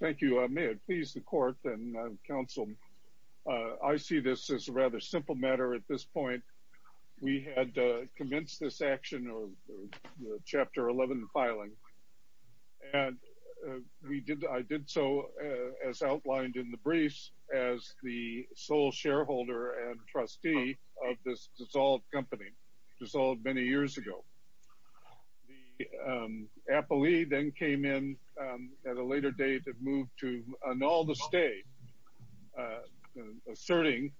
Thank you. May it please the court and counsel, I see this as a rather simple matter at this point. We had commenced this action of Chapter 11 filing and we did I did so as outlined in the briefs as the sole shareholder and trustee of this dissolved company, dissolved many years ago. The appellee then came in at a later date and moved to annul the stay, asserting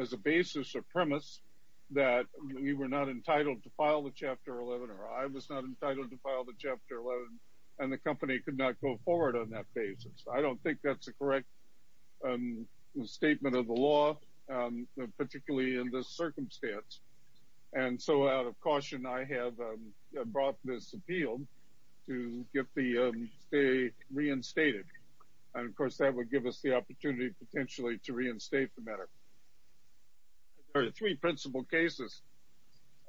as a basis or premise that we were not entitled to file the Chapter 11 or I was not entitled to file the Chapter 11 and the company could not go forward on that basis. I don't think that's a correct statement of the law, particularly in this circumstance and so out of caution I have brought this appeal to get the stay reinstated and of course that would give us the opportunity potentially to reinstate the matter. There are three principal cases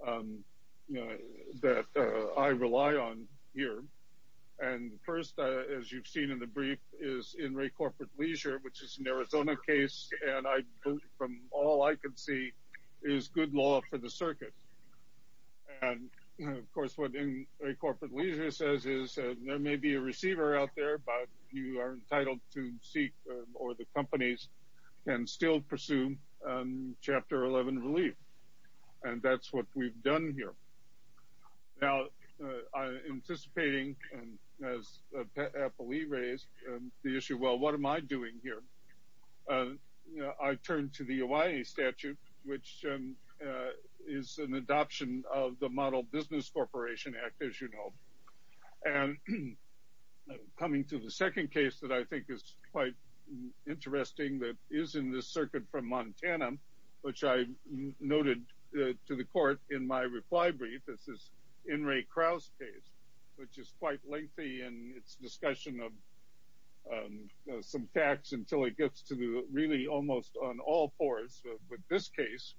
that I rely on here and first as you've seen in the brief is in Ray Corporate Leisure which is an Arizona case and I believe from all I can see is good law for the circuit and of course what in Ray Corporate Leisure says is there may be a receiver out there but you are entitled to seek or the companies can still pursue Chapter 11 relief and that's what we've done here. Now I'm anticipating as appellee raised the issue well what am I doing here? I turned to the Hawaii statute which is an adoption of the Model Business Corporation Act as you know and coming to the second case that I think is quite interesting that is in this circuit from noted to the court in my reply brief this is in Ray Krause case which is quite lengthy and it's discussion of some tax until it gets to the really almost on all fours with this case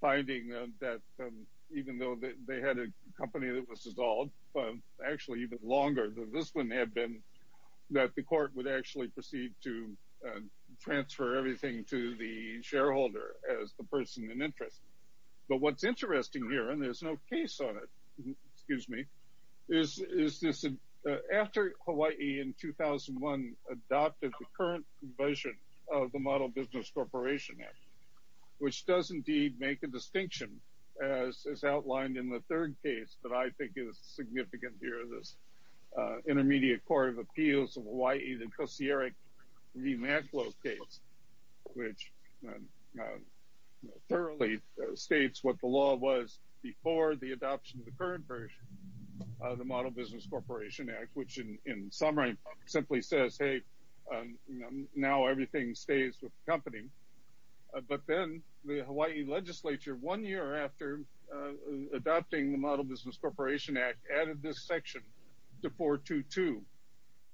finding that even though that they had a company that was dissolved actually even longer than this one had been that the court would actually proceed to transfer everything to the shareholder as the interest but what's interesting here and there's no case on it excuse me this is this after Hawaii in 2001 adopted the current version of the Model Business Corporation Act which does indeed make a distinction as is outlined in the third case that I think is significant here this Intermediate Court of Appeals of Hawaii the Koscierek v. McLeod case which thoroughly states what the law was before the adoption of the current version of the Model Business Corporation Act which in summary simply says hey now everything stays with company but then the Hawaii legislature one year after adopting the Model Business Corporation Act added this section the 422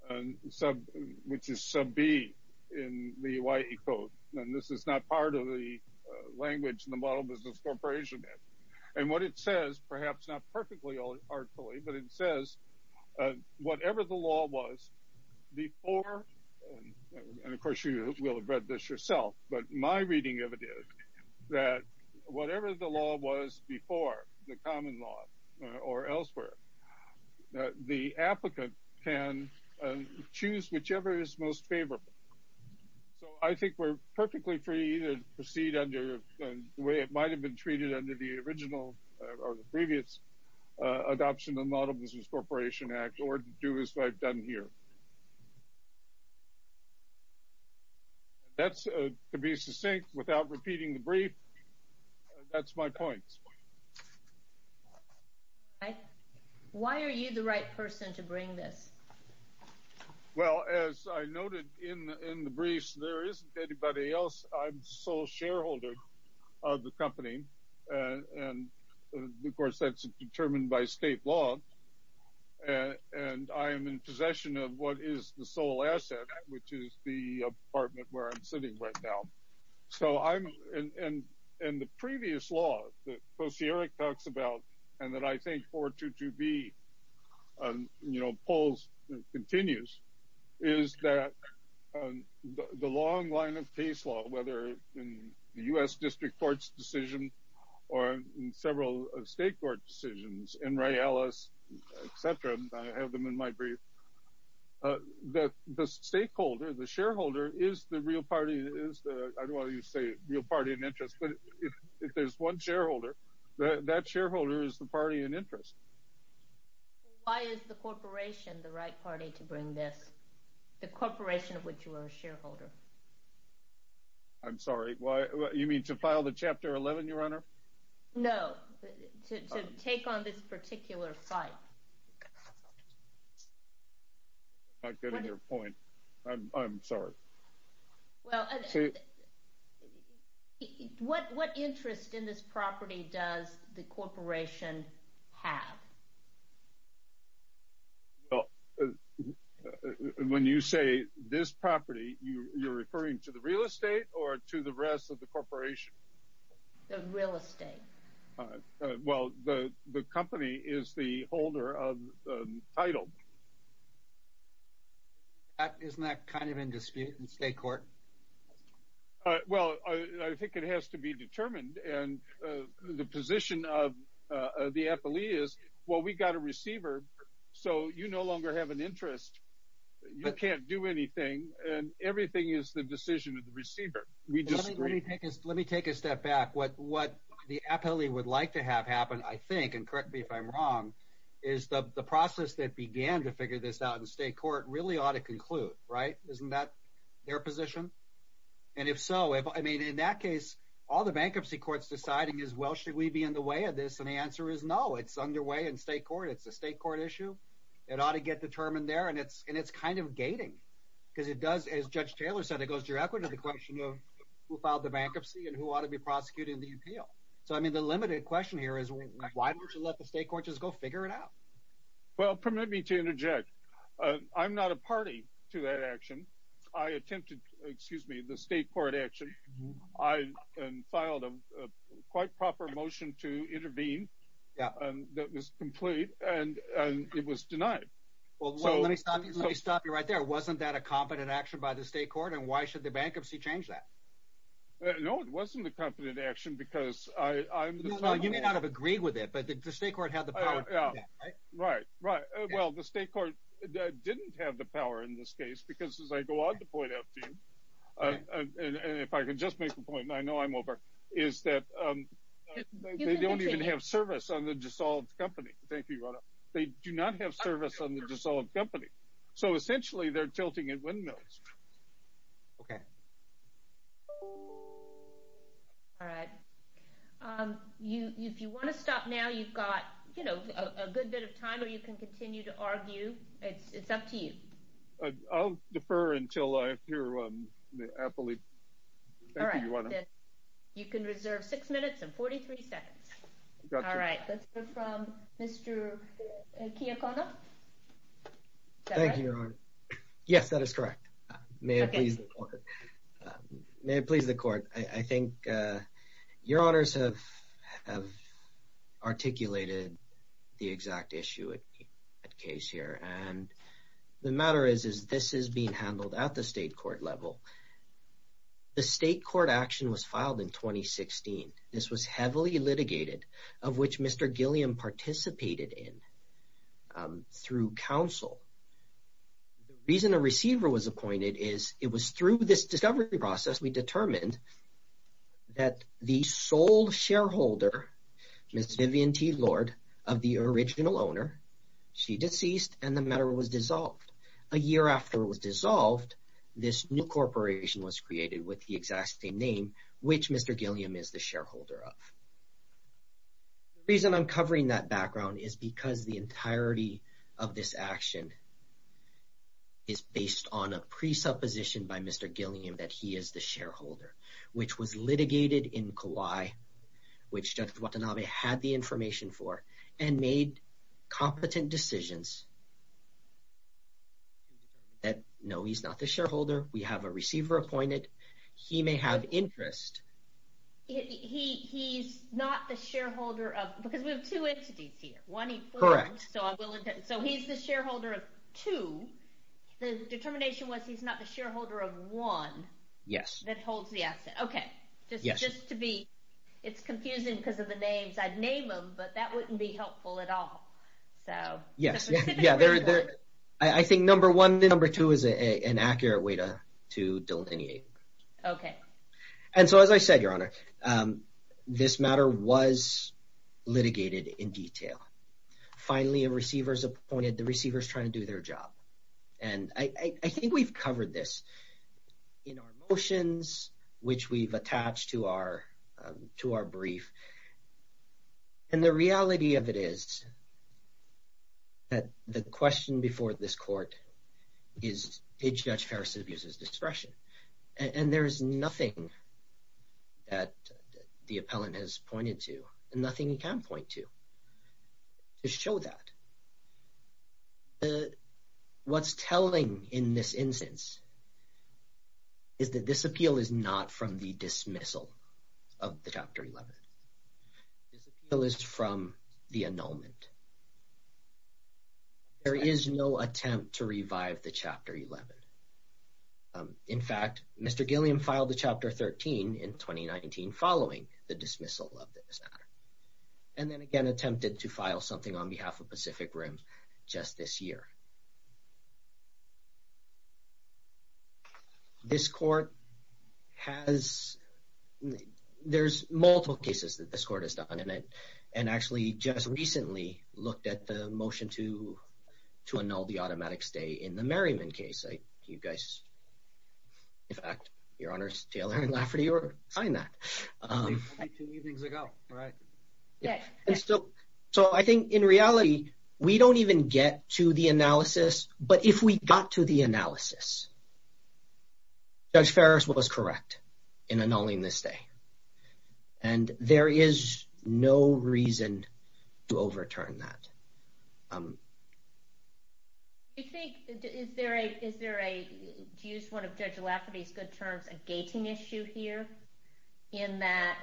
and sub which is sub B in the Hawaii code and this is not part of the language in the Model Business Corporation Act and what it says perhaps not perfectly artfully but it says whatever the law was before and of course you will have read this yourself but my reading of it is that whatever the law was before the common law or elsewhere the applicant can choose whichever is most favorable so I think we're perfectly free to proceed under the way it might have been treated under the original or the previous adoption the Model Business Corporation Act or do this what I've done here that's to be succinct without repeating the brief that's my point okay why are you the right person to bring this well as I noted in in the briefs there isn't anybody else I'm sole shareholder of the in possession of what is the sole asset which is the apartment where I'm sitting right now so I'm in and in the previous law the post Eric talks about and that I think for to to be you know polls continues is that the long line of case law whether in the u.s. district courts decision or in several state court decisions and Ray Ellis etc I have them in my brief that the stakeholder the shareholder is the real party is the I don't want you to say real party in interest but if there's one shareholder that shareholder is the party in interest why is the corporation the right party to bring this the corporation of which you are a shareholder I'm sorry why you mean to file the chapter 11 your no take on this particular site I'm getting your point I'm sorry well what what interest in this property does the corporation have well when you say this property you you're referring to the real estate or to the rest of the state well the the company is the holder of title isn't that kind of in dispute in state court well I think it has to be determined and the position of the FLE is well we got a receiver so you no longer have an interest you can't do anything and everything is the decision of the receiver we just let me take a step back what what the appellee would like to have happen I think and correct me if I'm wrong is the process that began to figure this out in state court really ought to conclude right isn't that their position and if so if I mean in that case all the bankruptcy courts deciding as well should we be in the way of this and the answer is no it's underway in state court it's a state court issue it ought to get determined there and it's and it's kind of gating because it does as judge Taylor said it goes directly to the question of who ought to be prosecuting the appeal so I mean the limited question here is why don't you let the state court just go figure it out well permit me to interject I'm not a party to that action I attempted excuse me the state court action I filed a quite proper motion to intervene yeah that was complete and it was denied well let me stop you right there wasn't that a competent action by the state court and why should the bankruptcy change that no it wasn't the competent action because I you may not have agreed with it but the state court had the power right right well the state court didn't have the power in this case because as I go on to point out to you and if I could just make a point I know I'm over is that they don't even have service on the dissolved company thank you they do not have service on the dissolved company so essentially they're okay all right you if you want to stop now you've got you know a good bit of time or you can continue to argue it's up to you I'll defer until I hear one happily all right you can reserve six minutes and 43 seconds all right let's may it please the court I think your honors have articulated the exact issue at case here and the matter is is this is being handled at the state court level the state court action was filed in 2016 this was heavily litigated of which mr. Gilliam participated in through counsel reason a receiver was appointed is it was through this discovery process we determined that the sole shareholder miss Vivian T Lord of the original owner she deceased and the matter was dissolved a year after was dissolved this new corporation was created with the exact same name which mr. Gilliam is the shareholder of reason I'm covering that by mr. Gilliam that he is the shareholder which was litigated in Kauai which judge Watanabe had the information for and made competent decisions that no he's not the shareholder we have a receiver appointed he may have interest he's not the shareholder of because we have two entities here one correct so he's the shareholder of two the determination was he's not the shareholder of one yes that holds the asset okay yes just to be it's confusing because of the names I'd name them but that wouldn't be helpful at all so yes yeah there I think number one the number two is a an accurate way to to delineate okay and so as I said your honor this matter was litigated in detail finally a receivers appointed the receivers trying to do their job and I think we've covered this in our motions which we've attached to our to our brief and the reality of it is that the question before this court is a judge Harrison abuses discretion and there's nothing that the appellant has pointed to and nothing you can't point to to show that the what's telling in this instance is that this appeal is not from the dismissal of the chapter 11 bill is from the annulment there is no attempt to revive the chapter 11 in fact mr. Gilliam filed the chapter 13 in 2019 following the dismissal of this matter and then again attempted to file something on behalf of Pacific Rim just this year this court has there's multiple cases that this court has done in it and actually just recently looked at the motion to to annul the automatic stay in the Merriman case I you guys in fact your honors Taylor and Lafferty or find that so I think in reality we don't even get to the analysis but if we got to the analysis judge Ferris was correct in annulling this day and there is no reason to overturn that is there a is there a use one of judge Lafferty's good terms a gating issue here in that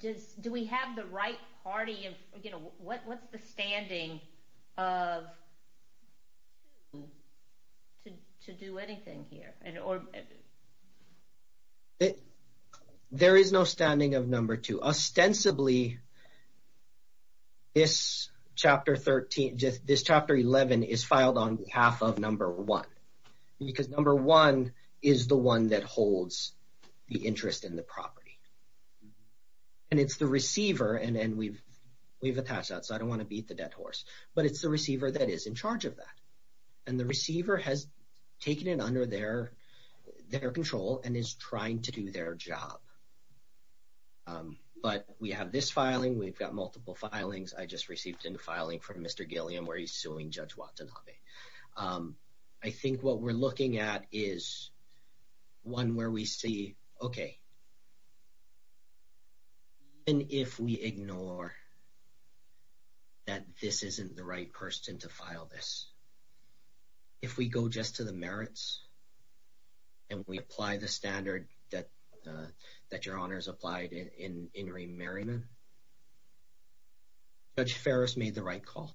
does do we have the right party of you know what what's the standing of to do anything here and or it there is no standing of number two ostensibly this chapter 13 just this chapter 11 is filed on behalf of number one because number one is the one that holds the interest in the property and it's the receiver and then we've we've attached that so I don't want to beat the dead horse but it's the receiver that is in charge of that and the receiver has taken it under their their control and but we have this filing we've got multiple filings I just received in the filing from mr. Gilliam where he's suing judge Watanabe I think what we're looking at is one where we see okay and if we ignore that this isn't the right person to file this if we go just to the merits and we apply the standard that that your honors applied in in remarryment but Ferris made the right call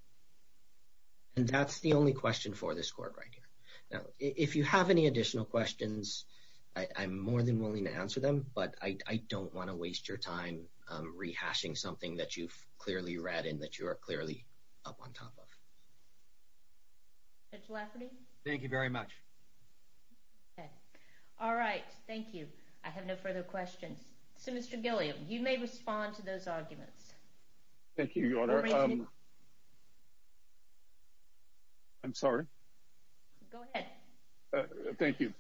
and that's the only question for this court right here now if you have any additional questions I'm more than willing to answer them but I don't want to waste your time rehashing something that you've clearly read in that you are further questions so mr. Gilliam you may respond to those arguments thank you your honor I'm sorry thank you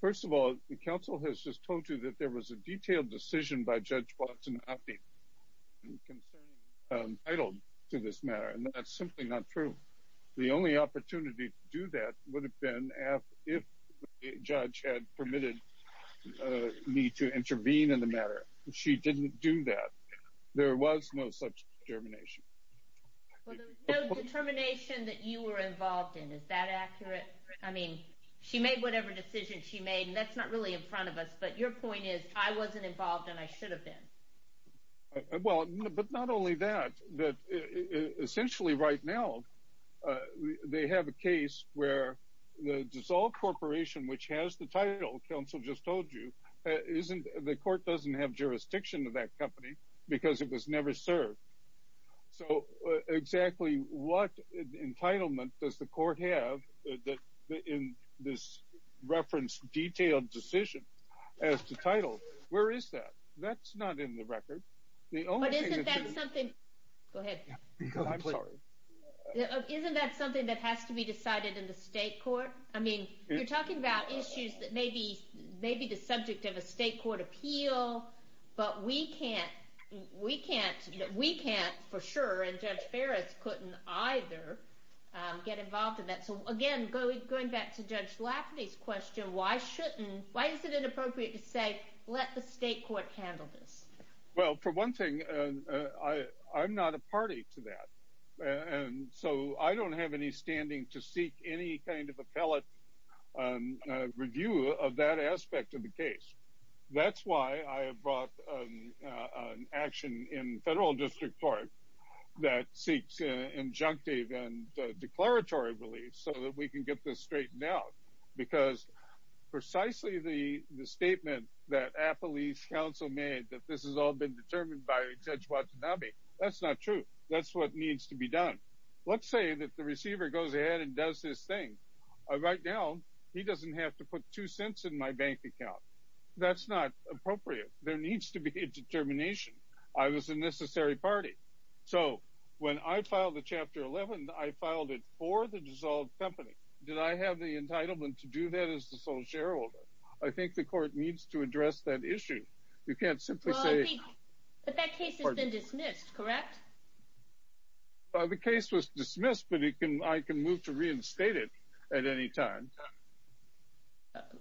first of all the council has just told you that there was a detailed decision by judge Watson happy I don't do this matter and that's simply not true the only opportunity to do that would have been if judge had permitted me to intervene in the matter she didn't do that there was no such termination that you were involved in is that accurate I mean she made whatever decision she made and that's not really in front of us but your point is I wasn't involved and I should have been well but not only that essentially right now they have a case where the dissolved corporation which has the title council just told you isn't the court doesn't have jurisdiction to that company because it was never served so exactly what entitlement does the court have in this reference detailed decision as to title where is that that's not in the record isn't that something that has to be decided in the state court I mean you're talking about issues that may be maybe the subject of a state court appeal but we can't we can't we can't for sure and judge Ferris couldn't either get involved in that so again going back to this well for one thing I I'm not a party to that and so I don't have any standing to seek any kind of appellate review of that aspect of the case that's why I have brought an action in federal district court that seeks injunctive and declaratory relief so that we can get this straightened out because precisely the statement that a police counsel made that this has all been determined by judge Watanabe that's not true that's what needs to be done let's say that the receiver goes ahead and does this thing right now he doesn't have to put two cents in my bank account that's not appropriate there needs to be a determination I was a necessary party so when I filed the chapter 11 I filed it for the dissolved company did I have the entitlement to do that as the sole I think the court needs to address that issue you can't simply say the case was dismissed but it can I can move to reinstate it at any time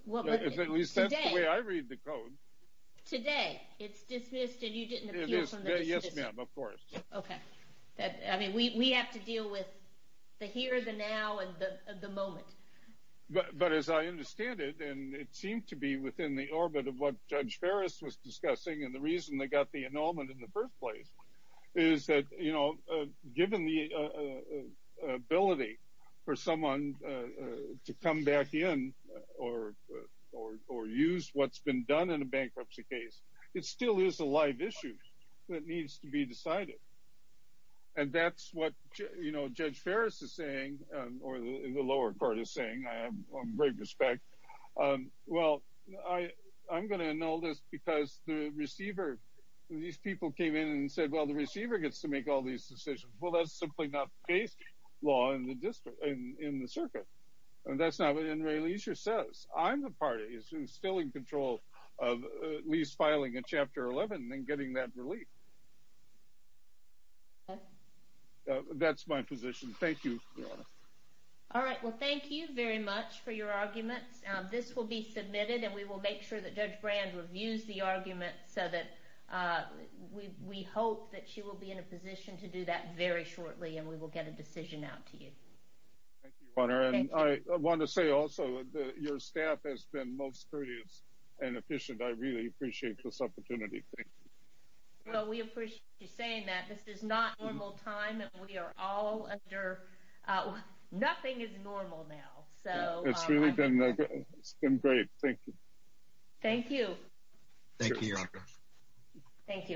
we have to it seemed to be within the orbit of what judge Ferris was discussing and the reason they got the annulment in the first place is that you know given the ability for someone to come back in or or use what's been done in a bankruptcy case it still is a live issue that needs to be decided and that's what you know Ferris is saying or the lower court is saying I have great respect well I I'm gonna know this because the receiver these people came in and said well the receiver gets to make all these decisions well that's simply not based law in the district in the circuit and that's not what in Ray leisure says I'm the party is still in control of least filing a chapter 11 and getting that that's my position thank you all right well thank you very much for your arguments this will be submitted and we will make sure that judge brand reviews the argument so that we hope that she will be in a position to do that very shortly and we will get a decision out to you I want to say also your staff has been most courteous and efficient I really appreciate this opportunity well we appreciate you saying that this is not normal time and we are all under nothing is normal now so it's really been it's been great thank you thank you thank you thank you